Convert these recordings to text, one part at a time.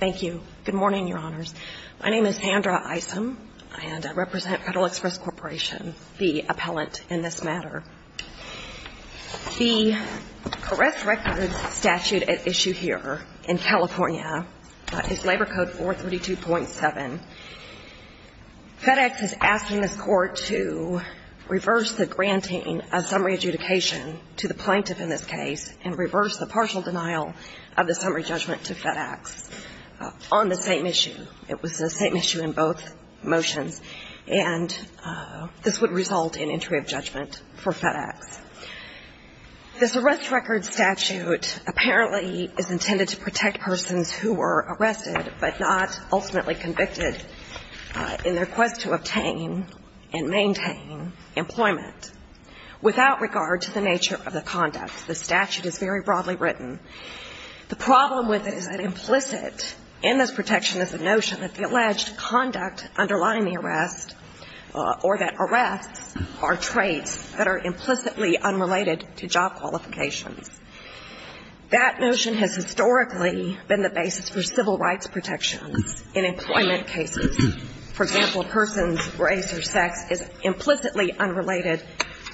Thank you. Good morning, Your Honors. My name is Sandra Isom, and I represent Federal Express Corporation, the appellant in this matter. The Caress Records statute at issue here in California is Labor Code 432.7. FedEx is asking this Court to reverse the granting of summary adjudication to the plaintiff in this case and reverse the partial denial of the summary judgment to FedEx on the same issue. It was the same issue in both motions, and this would result in entry of judgment for FedEx. This arrest record statute apparently is intended to protect persons who were arrested but not ultimately convicted in their quest to obtain and maintain employment without regard to the nature of the conduct. The statute is very broadly written. The problem with it is that implicit in this protection is the notion that the alleged conduct underlying the arrest or that arrests are traits that are implicitly unrelated to job qualifications. That notion has historically been the basis for civil rights protections in employment cases. For example, a person's race or sex is implicitly unrelated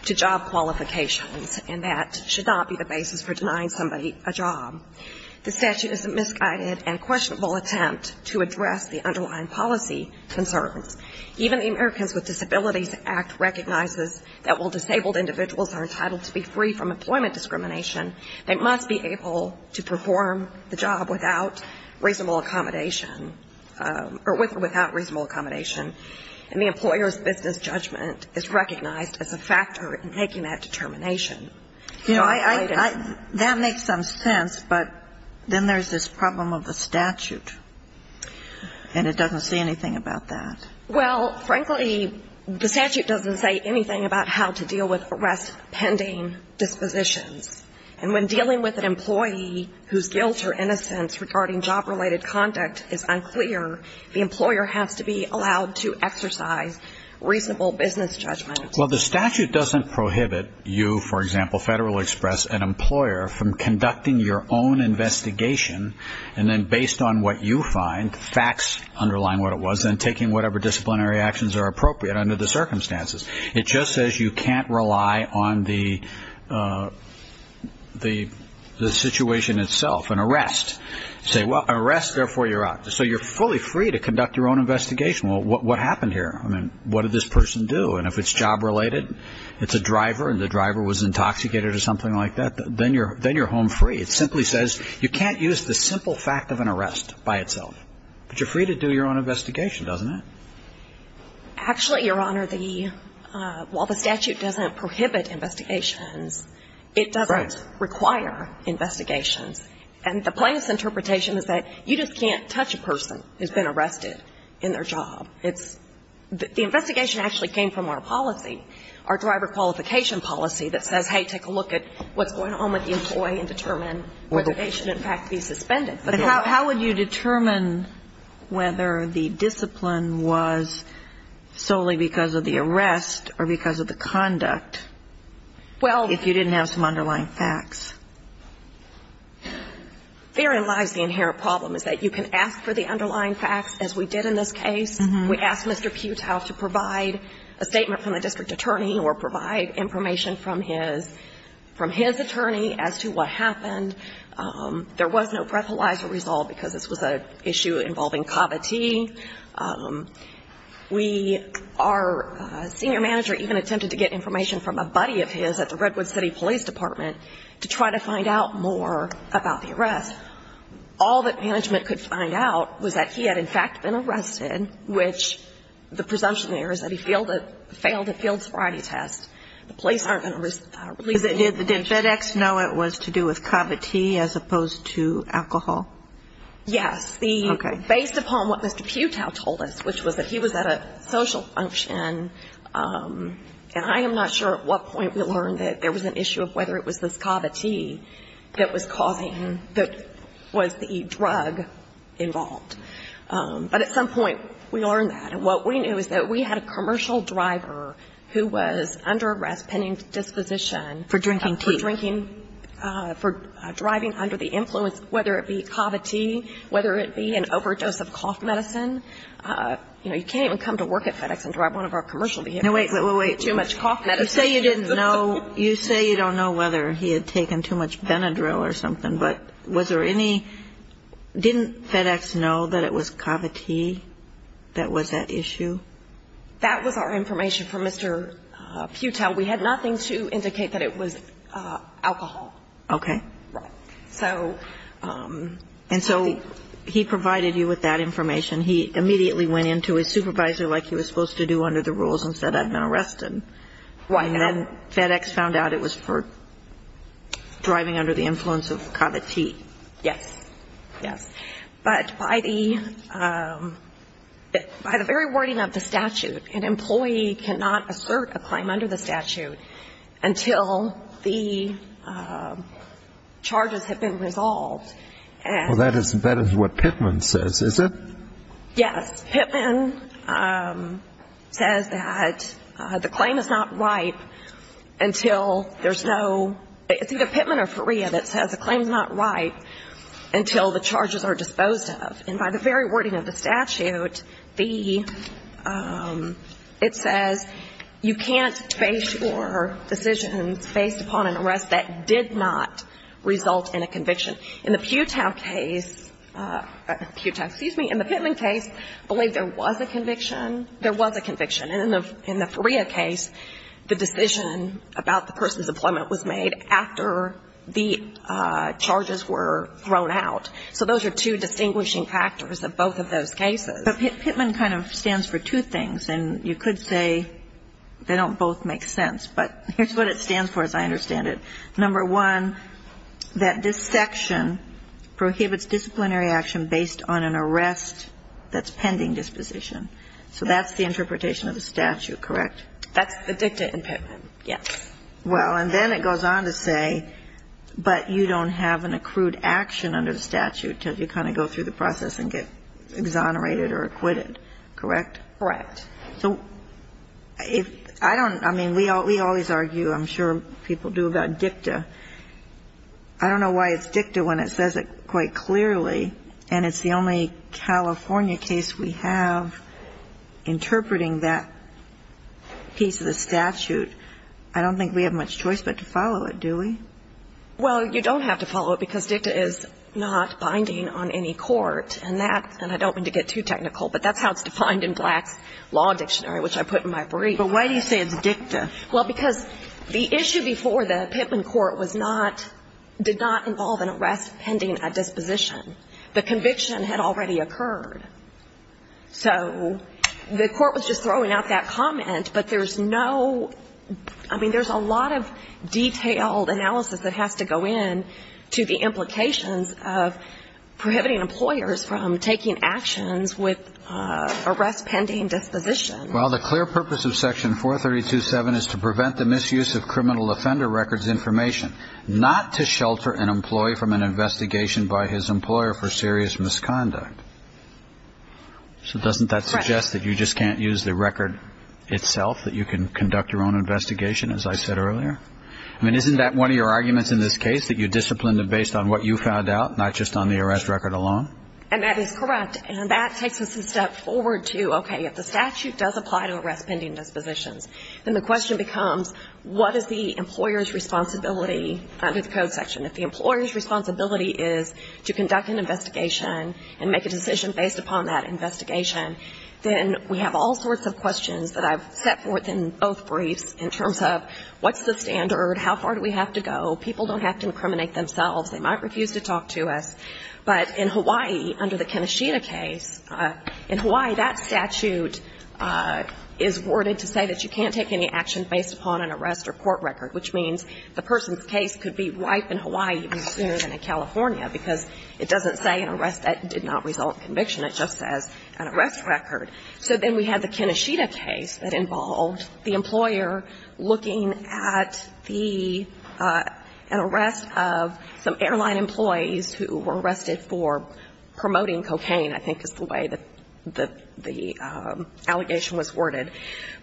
to job qualifications, and that should not be the basis for denying somebody a job. The statute is a misguided and questionable attempt to address the underlying policy concerns. Even the Americans with Disabilities Act recognizes that while disabled individuals are entitled to be free from employment discrimination, they must be able to perform the job without reasonable accommodation or with or without reasonable accommodation. And the employer's business judgment is recognized as a factor in making that determination. You know, I don't know. That makes some sense, but then there's this problem of the statute, and it doesn't say anything about that. Well, frankly, the statute doesn't say anything about how to deal with arrest pending dispositions. And when dealing with an employee whose guilt or innocence regarding job-related conduct is unclear, the employer has to be allowed to exercise reasonable business judgment. Well, the statute doesn't prohibit you, for example, Federal Express, an employer, from conducting your own investigation and then based on what you find, facts underlying what it was, then taking whatever disciplinary actions are appropriate under the circumstances. It just says you can't rely on the situation itself. An arrest. Say, well, arrest, therefore you're out. So you're fully free to conduct your own investigation. Well, what happened here? I mean, what did this person do? And if it's job-related, it's a driver and the driver was intoxicated or something like that, then you're home free. It simply says you can't use the simple fact of an arrest by itself. But you're free to do your own investigation, doesn't it? Actually, Your Honor, the – while the statute doesn't prohibit investigations, it doesn't require investigations. And the plaintiff's interpretation is that you just can't touch a person who's been arrested in their job. It's – the investigation actually came from our policy, our driver qualification policy that says, hey, take a look at what's going on with the employee and determine whether they should, in fact, be suspended. But how would you determine whether the discipline was solely because of the arrest or because of the conduct if you didn't have some underlying facts? Therein lies the inherent problem, is that you can ask for the underlying facts, as we did in this case. We asked Mr. Putow to provide a statement from the district attorney or provide information from his – from his attorney as to what happened. There was no breathalyzer resolved because this was an issue involving Cavite. We – our senior manager even attempted to get information from a buddy of his at the Redwood City Police Department to try to find out more about the arrest. All that management could find out was that he had, in fact, been arrested, which the presumption there is that he failed a field sobriety test. The police aren't going to release that information. Did FedEx know it was to do with Cavite as opposed to alcohol? Yes. Okay. Based upon what Mr. Putow told us, which was that he was at a social function, and I am not sure at what point we learned that there was an issue of whether it was this Cavite that was causing – that was the drug involved. But at some point we learned that. And what we knew is that we had a commercial driver who was under arrest pending disposition. For drinking tea. For drinking – for driving under the influence, whether it be Cavite, whether it be an overdose of cough medicine. You know, you can't even come to work at FedEx and drive one of our commercial vehicles. No, wait, wait, wait. Too much cough medicine. You say you didn't know – you say you don't know whether he had taken too much Benadryl or something, but was there any – didn't FedEx know that it was Cavite that was at issue? That was our information from Mr. Putow. We had nothing to indicate that it was alcohol. Okay. Right. So – And so he provided you with that information. He immediately went in to his supervisor like he was supposed to do under the rules and said, I've been arrested. Right. And then FedEx found out it was for driving under the influence of Cavite. Yes. Yes. But by the – by the very wording of the statute, an employee cannot assert a claim under the statute until the charges have been resolved. Well, that is what Pittman says, is it? Yes. Pittman says that the claim is not ripe until there's no – it's either Pittman or Faria that says the claim is not ripe until the charges are disposed of. And by the very wording of the statute, the – it says you can't base your decisions based upon an arrest that did not result in a conviction. In the Putow case – Putow, excuse me, in the Pittman case, I believe there was a conviction. There was a conviction. And in the Faria case, the decision about the person's employment was made after the charges were thrown out. So those are two distinguishing factors of both of those cases. But Pittman kind of stands for two things, and you could say they don't both make sense. But here's what it stands for, as I understand it. Number one, that this section prohibits disciplinary action based on an arrest that's pending disposition. So that's the interpretation of the statute, correct? That's the dicta in Pittman, yes. Well, and then it goes on to say, but you don't have an accrued action under the statute until you kind of go through the process and get exonerated or acquitted, correct? Correct. So if – I don't – I mean, we always argue, I'm sure people do, about dicta. I don't know why it's dicta when it says it quite clearly, and it's the only California case we have interpreting that piece of the statute. I don't think we have much choice but to follow it, do we? Well, you don't have to follow it because dicta is not binding on any court, and that – and I don't mean to get too technical, but that's how it's defined in Black's Law Dictionary, which I put in my brief. But why do you say it's dicta? Well, because the issue before the Pittman court was not – did not involve an arrest pending a disposition. The conviction had already occurred. So the court was just making actions with arrest pending disposition. Well, the clear purpose of Section 432.7 is to prevent the misuse of criminal offender records information, not to shelter an employee from an investigation by his employer for serious misconduct. So doesn't that suggest that you just can't use the record itself, that you can conduct your own investigation, as I said earlier? I mean, isn't that one of your arguments in this case, that you're disciplined based on what you found out, not just on the arrest record alone? And that is correct. And that takes us a step forward to, okay, if the statute does apply to arrest pending dispositions, then the question becomes, what is the employer's responsibility under the Code section? If the employer's responsibility is to conduct an investigation and make a decision based upon that investigation, then we have all sorts of questions that I've set forth in both briefs in terms of what's the standard, how far do we have to go, people don't have to incriminate themselves, they might refuse to talk to us. But in Hawaii, under the Keneshita case, in Hawaii, that statute is worded to say that you can't take any action based upon an arrest or court record, which means the person's case could be ripe in Hawaii even sooner than in California, because it doesn't say an arrest that did not result in conviction. It just says an arrest record. So then we have the Keneshita case that involved the employer looking at the arrest of some airline employees who were arrested for promoting cocaine, I think is the way that the allegation was worded.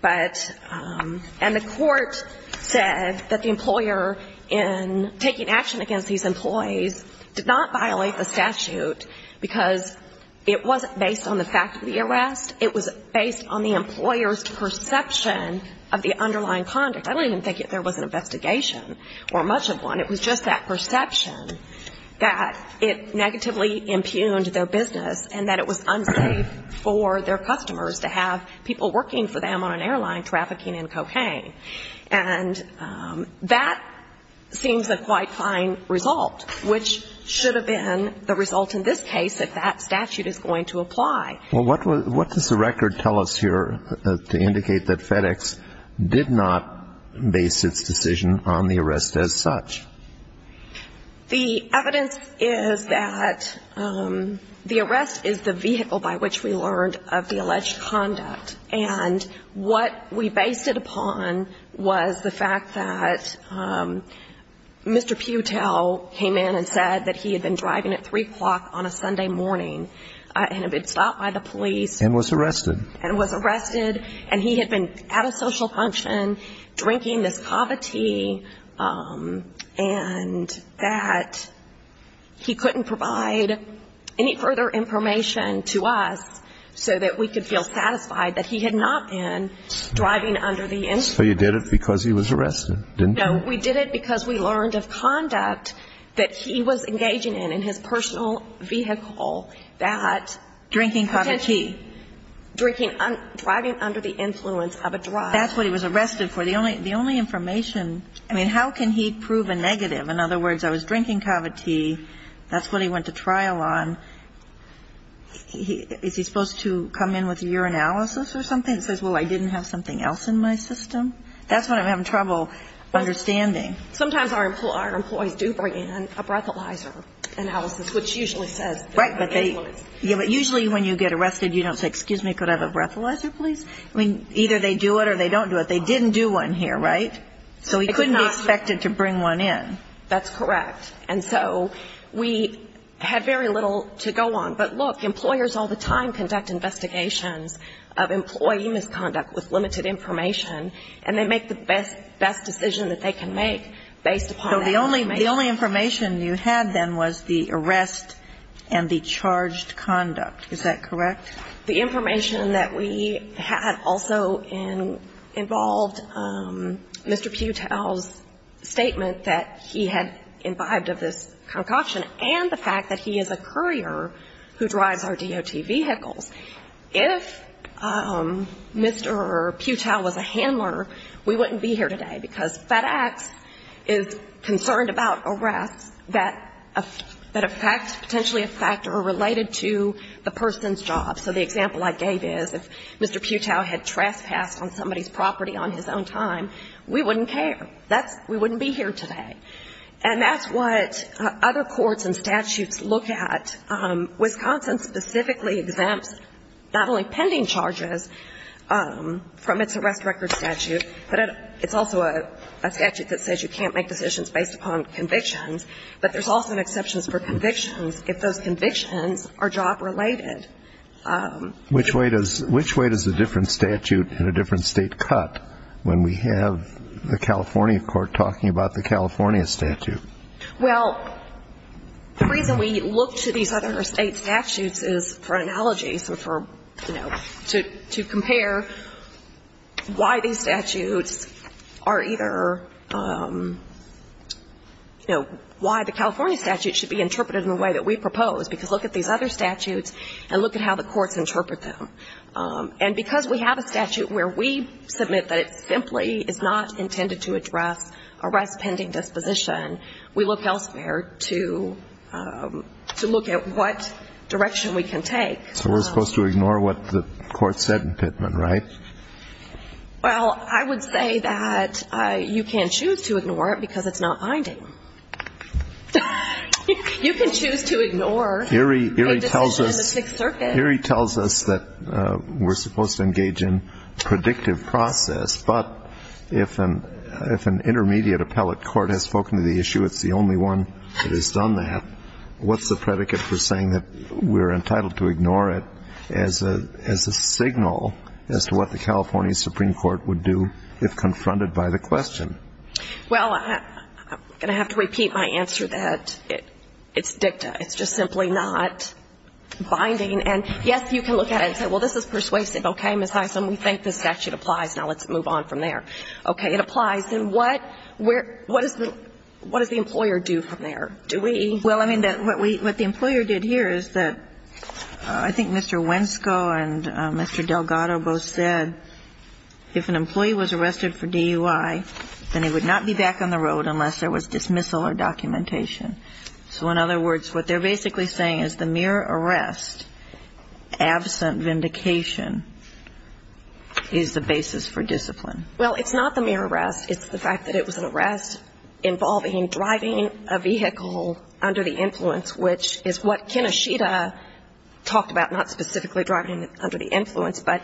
But the court said that the employer in taking action against these employees did not violate the statute because it wasn't based on the fact of the arrest. It was based on the employer's perception of the underlying conduct. I don't even think that there was an investigation or much of one. It was just that perception that it negatively impugned their business and that it was unsafe for their customers to have people working for them on an airline trafficking in cocaine. And that seems a quite fine result, which should have been the result in this case that that statute is going to apply. Well, what does the record tell us here to indicate that FedEx did not base its decision on the arrest as such? The evidence is that the arrest is the vehicle by which we learned of the alleged conduct. And what we based it upon was the fact that Mr. Putell came in and said that he had been driving at 3 o'clock on a Sunday morning and had been stopped by the police. And was arrested. And was arrested. And he had been at a social function drinking this coffee tea and that he couldn't provide any further information to us so that we could feel satisfied that he had not been driving under the influence. So you did it because he was arrested, didn't you? No, we did it because we learned of conduct that he was engaging in in his personal vehicle that was drinking coffee tea. Driving under the influence of a driver. That's what he was arrested for. The only information, I mean, how can he prove a negative? In other words, I was drinking coffee tea, that's what he went to trial on. Is he supposed to come in with a urinalysis or something that says, well, I didn't have something else in my system? That's what I'm having trouble understanding. Sometimes our employees do bring in a breathalyzer analysis, which usually says... Right, but usually when you get arrested, you don't say, excuse me, could I have a breathalyzer, please? I mean, either they do it or they don't do it. They didn't do one here, right? So he couldn't be expected to bring one in. That's correct. And so we had very little to go on. But, look, employers all the time conduct investigations of employee misconduct with limited information, and they make the best decision that they can make based upon that information. So the only information you had, then, was the arrest and the charged conduct. Is that correct? The information that we had also involved Mr. Putell's statement that he had imbibed of this concoction and the fact that he is a courier who drives our DOT vehicles. If Mr. Putell was a handler, we wouldn't be here today, because FedEx is concerned about arrests that affect, potentially affect or are related to the person's job. So the example I gave is if Mr. Putell had trespassed on somebody's property on his own time, we wouldn't care. We wouldn't be here today. And that's what other courts and statutes look at. Wisconsin specifically exempts not only pending charges from its arrest record statute, but it's also a statute that says you can't make decisions based upon convictions, but there's also exceptions for convictions if those convictions are job-related. Which way does a different statute in a different state cut when we have the California Court talking about the California statute? Well, the reason we look to these other state statutes is for analogies and for, you know, to compare why these statutes are either, you know, what are the reasons why these statutes should be interpreted in the way that we propose, because look at these other statutes and look at how the courts interpret them. And because we have a statute where we submit that it simply is not intended to address arrest pending disposition, we look elsewhere to look at what direction we can take. So we're supposed to ignore what the court said in Pittman, right? Well, I would say that you can choose to ignore it because it's not binding. You can choose to ignore a decision in the Sixth Circuit. Erie tells us that we're supposed to engage in predictive process, but if an intermediate appellate court has spoken to the issue, it's the only one that has done that, what's the predicate for saying that we're entitled to ignore it as a signal as to what the California Supreme Court would do if confronted by the question? Well, I'm going to have to repeat my answer that it's dicta. It's just simply not binding. And, yes, you can look at it and say, well, this is persuasive. Okay, Ms. Hyslop, we think this statute applies. Now let's move on from there. Okay. It applies. Then what? What does the employer do from there? Do we? Well, I mean, what the employer did here is that I think Mr. Wensko and Mr. Delgado said if an employee was arrested for DUI, then he would not be back on the road unless there was dismissal or documentation. So in other words, what they're basically saying is the mere arrest, absent vindication, is the basis for discipline. Well, it's not the mere arrest. It's the fact that it was an arrest involving driving a vehicle under the influence, which is what Kinoshita talked about, not specifically driving under the influence, but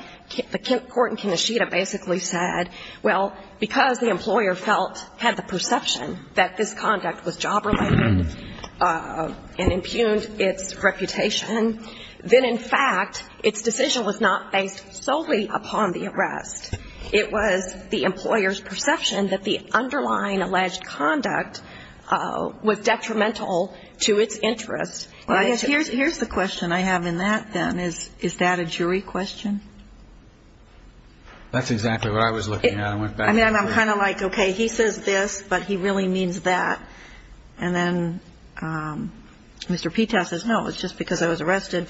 the court in Kinoshita basically said, well, because the employer felt, had the perception that this conduct was job related and impugned its reputation, then, in fact, its decision was not based solely upon the arrest. It was the employer's perception that the underlying alleged conduct was detrimental to its interest Here's the question I have in that, then. Is that a jury question? That's exactly what I was looking at. I'm kind of like, okay, he says this, but he really means that. And then Mr. Pitas says, no, it's just because I was arrested.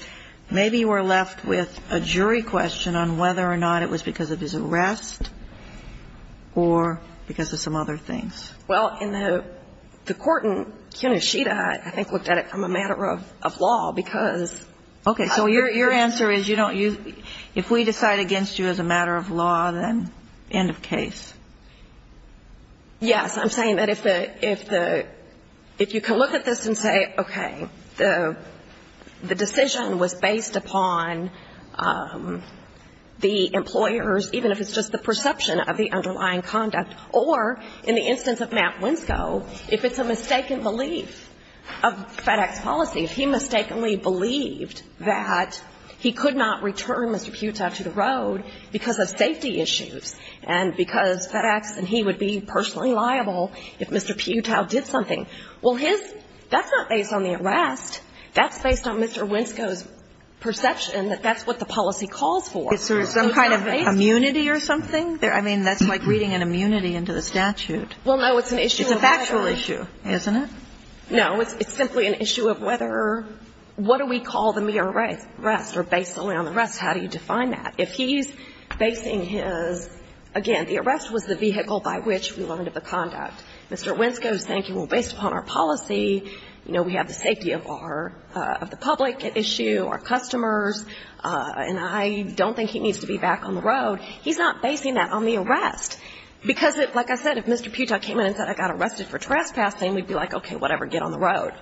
Maybe we're left with a jury question on whether or not it was because of his arrest or because of some other things. Well, in the court in Kinoshita, I think, looked at it from a matter of law, because Okay. So your answer is you don't use – if we decide against you as a matter of law, then end of case. Yes. I'm saying that if the – if you can look at this and say, okay, the decision was based upon the employer's, even if it's just the perception of the underlying conduct, or in the instance of Matt Winskow, if it's a mistaken belief of FedEx policy, if he mistakenly believed that he could not return Mr. Putau to the road because of safety issues and because FedEx and he would be personally liable if Mr. Putau did something. Well, his – that's not based on the arrest. That's based on Mr. Winskow's perception that that's what the policy calls for. Is there some kind of immunity or something? I mean, that's like reading an immunity into the statute. Well, no. It's an issue of whether – It's a factual issue, isn't it? No. It's simply an issue of whether – what do we call the mere arrest, or based solely on the arrest, how do you define that? If he's basing his – again, the arrest was the vehicle by which we learned of the conduct. Mr. Winskow is thinking, well, based upon our policy, you know, we have the safety of our – of the public at issue, our customers, and I don't think he needs to be back on the road. He's not basing that on the arrest. Because, like I said, if Mr. Putau came in and said, I got arrested for trespassing, we'd be like, okay, whatever, get on the road.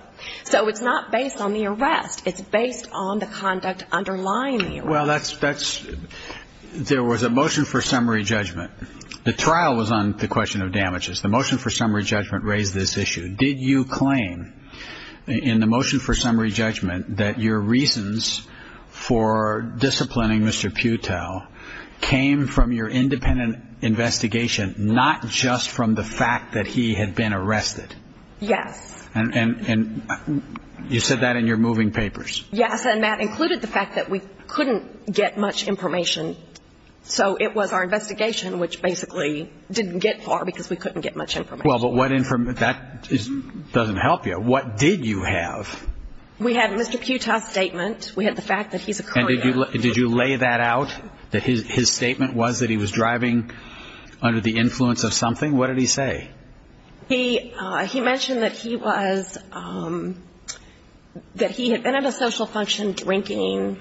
So it's not based on the arrest. It's based on the conduct underlying the arrest. Well, that's – there was a motion for summary judgment. The trial was on the question of damages. The motion for summary judgment raised this issue. Did you claim in the motion for summary judgment that your reasons for disciplining Mr. Putau came from your independent investigation, not just from the fact that he had been arrested? Yes. And you said that in your moving papers. Yes, and that included the fact that we couldn't get much information. So it was our investigation, which basically didn't get far because we couldn't get much information. Well, but what – that doesn't help you. What did you have? We had Mr. Putau's statement. We had the fact that he's a courier. And did you lay that out, that his statement was that he was driving under the influence of something? What did he say? He mentioned that he was – that he had been at a social function drinking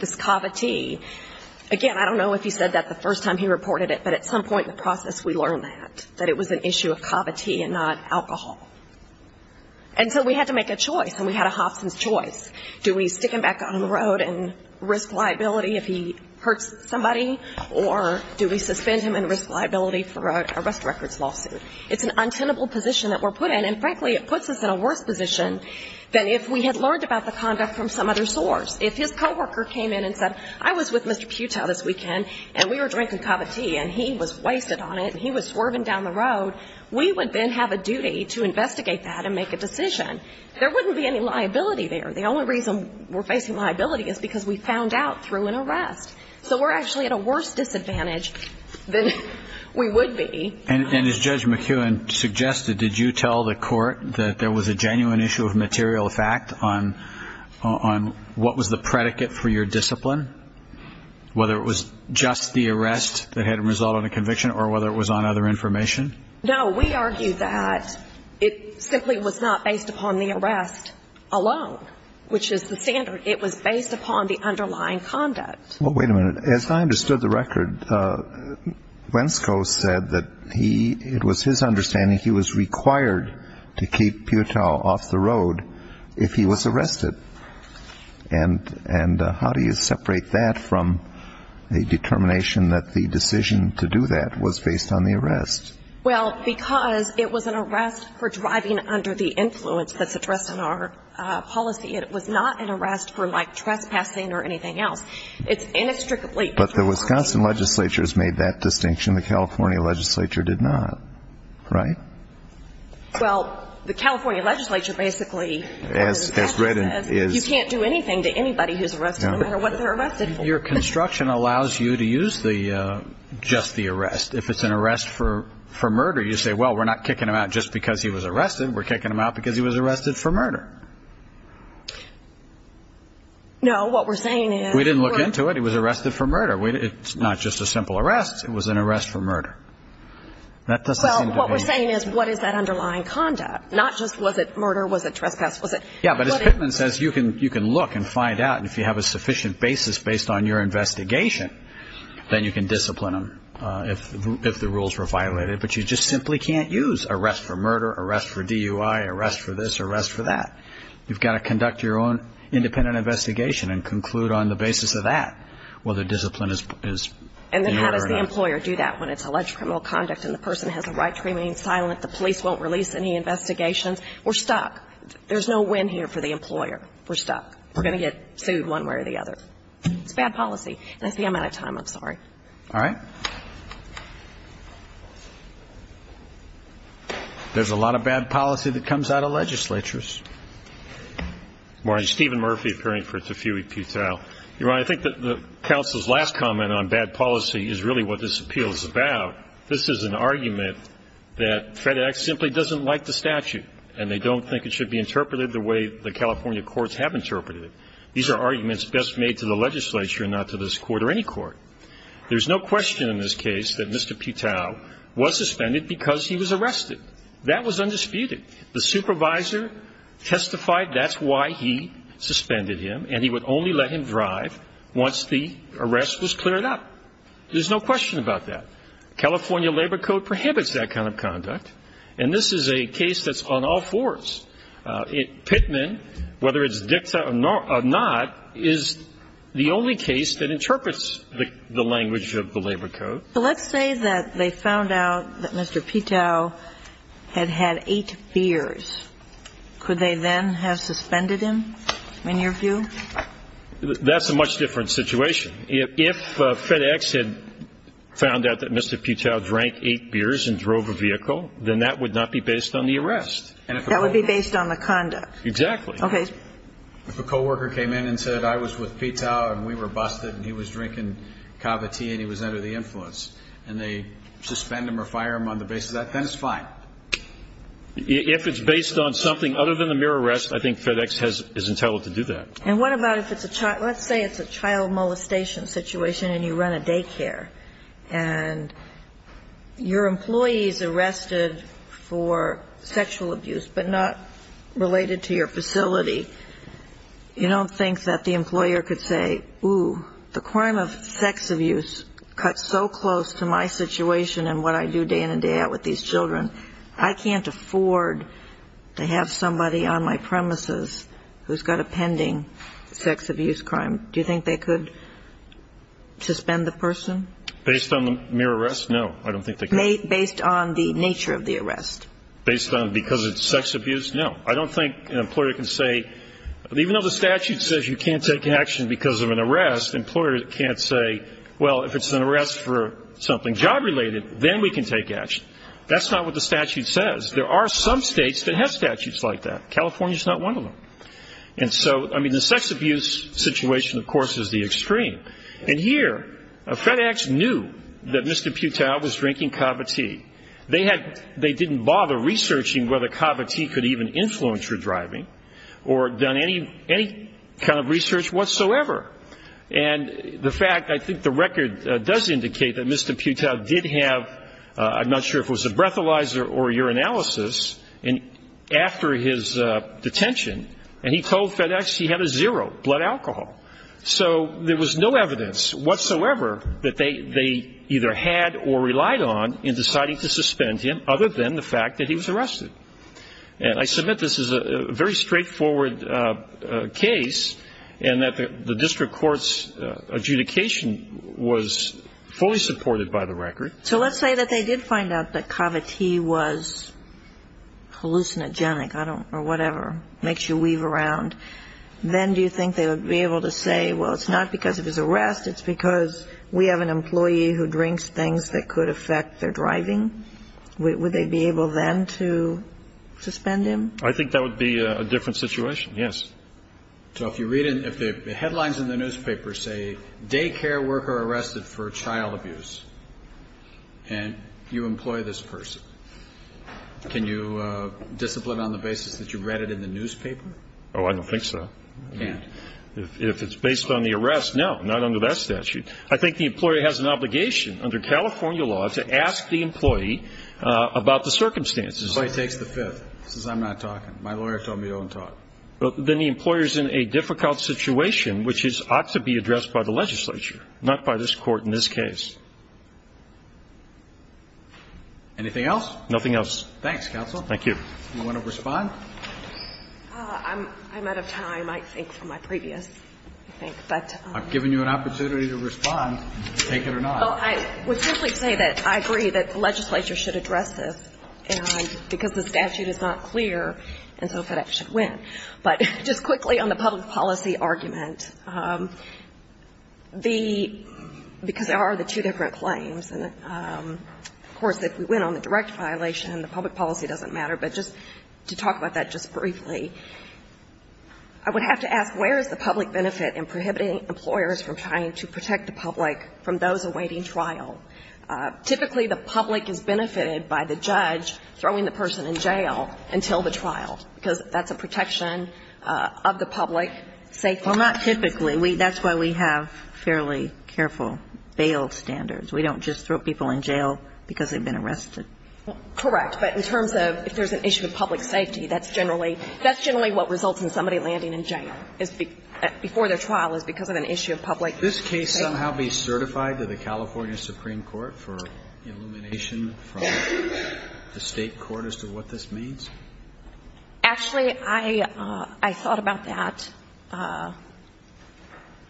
this kava tea. Again, I don't know if he said that the first time he reported it, but at some point in the process, we learned that, that it was an issue of kava tea and not alcohol. And so we had to make a choice, and we had a Hobson's choice. Do we stick him back on the road and risk liability if he hurts somebody, or do we suspend him and risk liability for an arrest records lawsuit? It's an untenable position that we're put in. And frankly, it puts us in a worse position than if we had learned about the conduct from some other source. If his coworker came in and said, I was with Mr. Putau this weekend, and we were drinking kava tea, and he was wasted on it, and he was swerving down the road, we would then have a duty to investigate that and make a decision. There wouldn't be any liability there. The only reason we're facing liability is because we found out through an arrest. So we're actually at a worse disadvantage than we would be. And as Judge McKeown suggested, did you tell the court that there was a genuine issue of material fact on what was the predicate for your discipline, whether it was just the arrest that had resulted in a conviction or whether it was on other information? No, we argue that it simply was not based upon the arrest alone, which is the standard. It was based upon the underlying conduct. Well, wait a minute. As I understood the record, Wensko said that he, it was his understanding, he was required to keep Putau off the road if he was arrested. And how do you separate that from the determination that the decision to do that was based on the arrest? Well, because it was an arrest for driving under the influence that's addressed in our policy. It was not an arrest for trespassing or anything else. It's inextricably linked. But the Wisconsin legislature has made that distinction. The California legislature did not, right? Well, the California legislature basically says you can't do anything to anybody who's arrested, no matter what they're arrested for. Your construction allows you to use just the arrest. If it's an arrest for murder, you say, well, we're not kicking him out just because he was arrested. We're kicking him out because he was arrested for murder. No, what we're saying is. We didn't look into it. He was arrested for murder. It's not just a simple arrest. It was an arrest for murder. Well, what we're saying is what is that underlying conduct? Not just was it murder, was it trespass, was it. Yeah, but as Pittman says, you can look and find out. And if you have a sufficient basis based on your investigation, then you can discipline him if the rules were violated. But you just simply can't use arrest for murder, arrest for DUI, arrest for this, arrest for that. You've got to conduct your own independent investigation and conclude on the basis of that whether discipline is in order. And then how does the employer do that when it's alleged criminal conduct and the person has a right to remain silent, the police won't release any investigations? We're stuck. There's no win here for the employer. We're stuck. We're going to get sued one way or the other. It's bad policy. And I think I'm out of time. I'm sorry. All right. There's a lot of bad policy that comes out of legislatures. All right. Steven Murphy, appearing for Tafui Putau. Your Honor, I think that the counsel's last comment on bad policy is really what this appeal is about. This is an argument that FedEx simply doesn't like the statute, and they don't think it should be interpreted the way the California courts have interpreted it. These are arguments best made to the legislature and not to this court or any court. There's no question in this case that Mr. Putau was suspended because he was arrested. That was undisputed. The supervisor testified that's why he suspended him, and he would only let him drive once the arrest was cleared up. There's no question about that. California Labor Code prohibits that kind of conduct, and this is a case that's on all fours. Pittman, whether it's dicta or not, is the only case that interprets the language of the Labor Code. But let's say that they found out that Mr. Putau had had eight beers. Could they then have suspended him, in your view? That's a much different situation. If FedEx had found out that Mr. Putau drank eight beers and drove a vehicle, then that would not be based on the arrest. That would be based on the conduct. Exactly. Okay. If a co-worker came in and said, I was with Putau, and we were busted, and he was drinking kava tea and he was under the influence, and they suspend him or fire him on the basis of that, then it's fine. If it's based on something other than the mere arrest, I think FedEx is entitled to do that. And what about if it's a child? Let's say it's a child molestation situation and you run a daycare, and your employee is arrested for sexual abuse, but not related to your facility. You don't think that the employer could say, ooh, the crime of sex abuse cuts so close to my situation and what I do day in and day out with these children. I can't afford to have somebody on my premises who's got a pending sex abuse crime. Do you think they could suspend the person? Based on the mere arrest? No, I don't think they could. Based on the nature of the arrest. Based on because it's sex abuse? No. I don't think an employer can say, even though the statute says you can't take action because of an arrest, an employer can't say, well, if it's an arrest for something job-related, then we can take action. That's not what the statute says. There are some states that have statutes like that. California is not one of them. And so, I mean, the sex abuse situation, of course, is the extreme. And here, FedEx knew that Mr. Putau was drinking kava tea. They didn't bother researching whether kava tea could even influence your driving or done any kind of research whatsoever. And the fact, I think the record does indicate that Mr. Putau did have, I'm not sure if it was a breathalyzer or urinalysis, after his detention, and he told FedEx he had a zero, blood alcohol. So there was no evidence whatsoever that they either had or relied on in deciding to suspend him, other than the fact that he was arrested. And I submit this is a very straightforward case, and that the district court's adjudication was fully supported by the record. So let's say that they did find out that kava tea was hallucinogenic or whatever, makes you weave around. Then do you think they would be able to say, well, it's not because of his arrest, it's because we have an employee who drinks things that could affect their driving? Would they be able then to suspend him? I think that would be a different situation, yes. So if you read, if the headlines in the newspaper say, daycare worker arrested for child abuse, and you employ this person, can you discipline on the basis that you read it in the newspaper? Oh, I don't think so. You can't. If it's based on the arrest, no, not under that statute. I think the employee has an obligation under California law to ask the employee about the circumstances. Employee takes the fifth, says I'm not talking. My lawyer told me you don't talk. Then the employer is in a difficult situation, which ought to be addressed by the legislature, not by this Court in this case. Anything else? Nothing else. Thanks, counsel. Thank you. Do you want to respond? I'm out of time, I think, for my previous, I think. I've given you an opportunity to respond, take it or not. I would simply say that I agree that the legislature should address this, because the statute is not clear, and so FedEx should win. But just quickly on the public policy argument, the, because there are the two different claims, and, of course, if we win on the direct violation, the public policy doesn't matter. But just to talk about that just briefly, I would have to ask where is the public benefit in prohibiting employers from trying to protect the public from those awaiting trial? Typically, the public is benefited by the judge throwing the person in jail until the trial, because that's a protection of the public safety. Well, not typically. That's why we have fairly careful bail standards. We don't just throw people in jail because they've been arrested. Correct. But in terms of if there's an issue of public safety, that's generally, that's generally what results in somebody landing in jail, before their trial, is because of an issue of public safety. Could this case somehow be certified to the California Supreme Court for elimination from the State court as to what this means? Actually, I thought about that,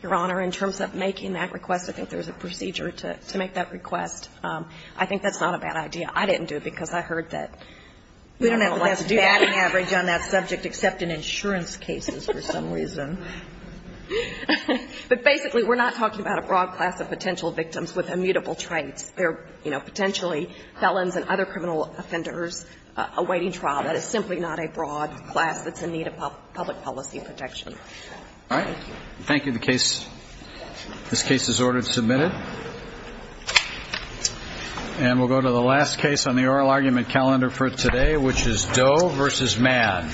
Your Honor, in terms of making that request. I think there's a procedure to make that request. I think that's not a bad idea. I didn't do it because I heard that we don't have a lot to do. We don't have a batting average on that subject, except in insurance cases, for some reason. But basically, we're not talking about a broad class of potential victims with immutable traits. They're, you know, potentially felons and other criminal offenders awaiting trial. That is simply not a broad class that's in need of public policy protection. All right. Thank you. Thank you. This case is ordered and submitted. And we'll go to the last case on the oral argument calendar for today, which is Doe v. Mann. Thank you.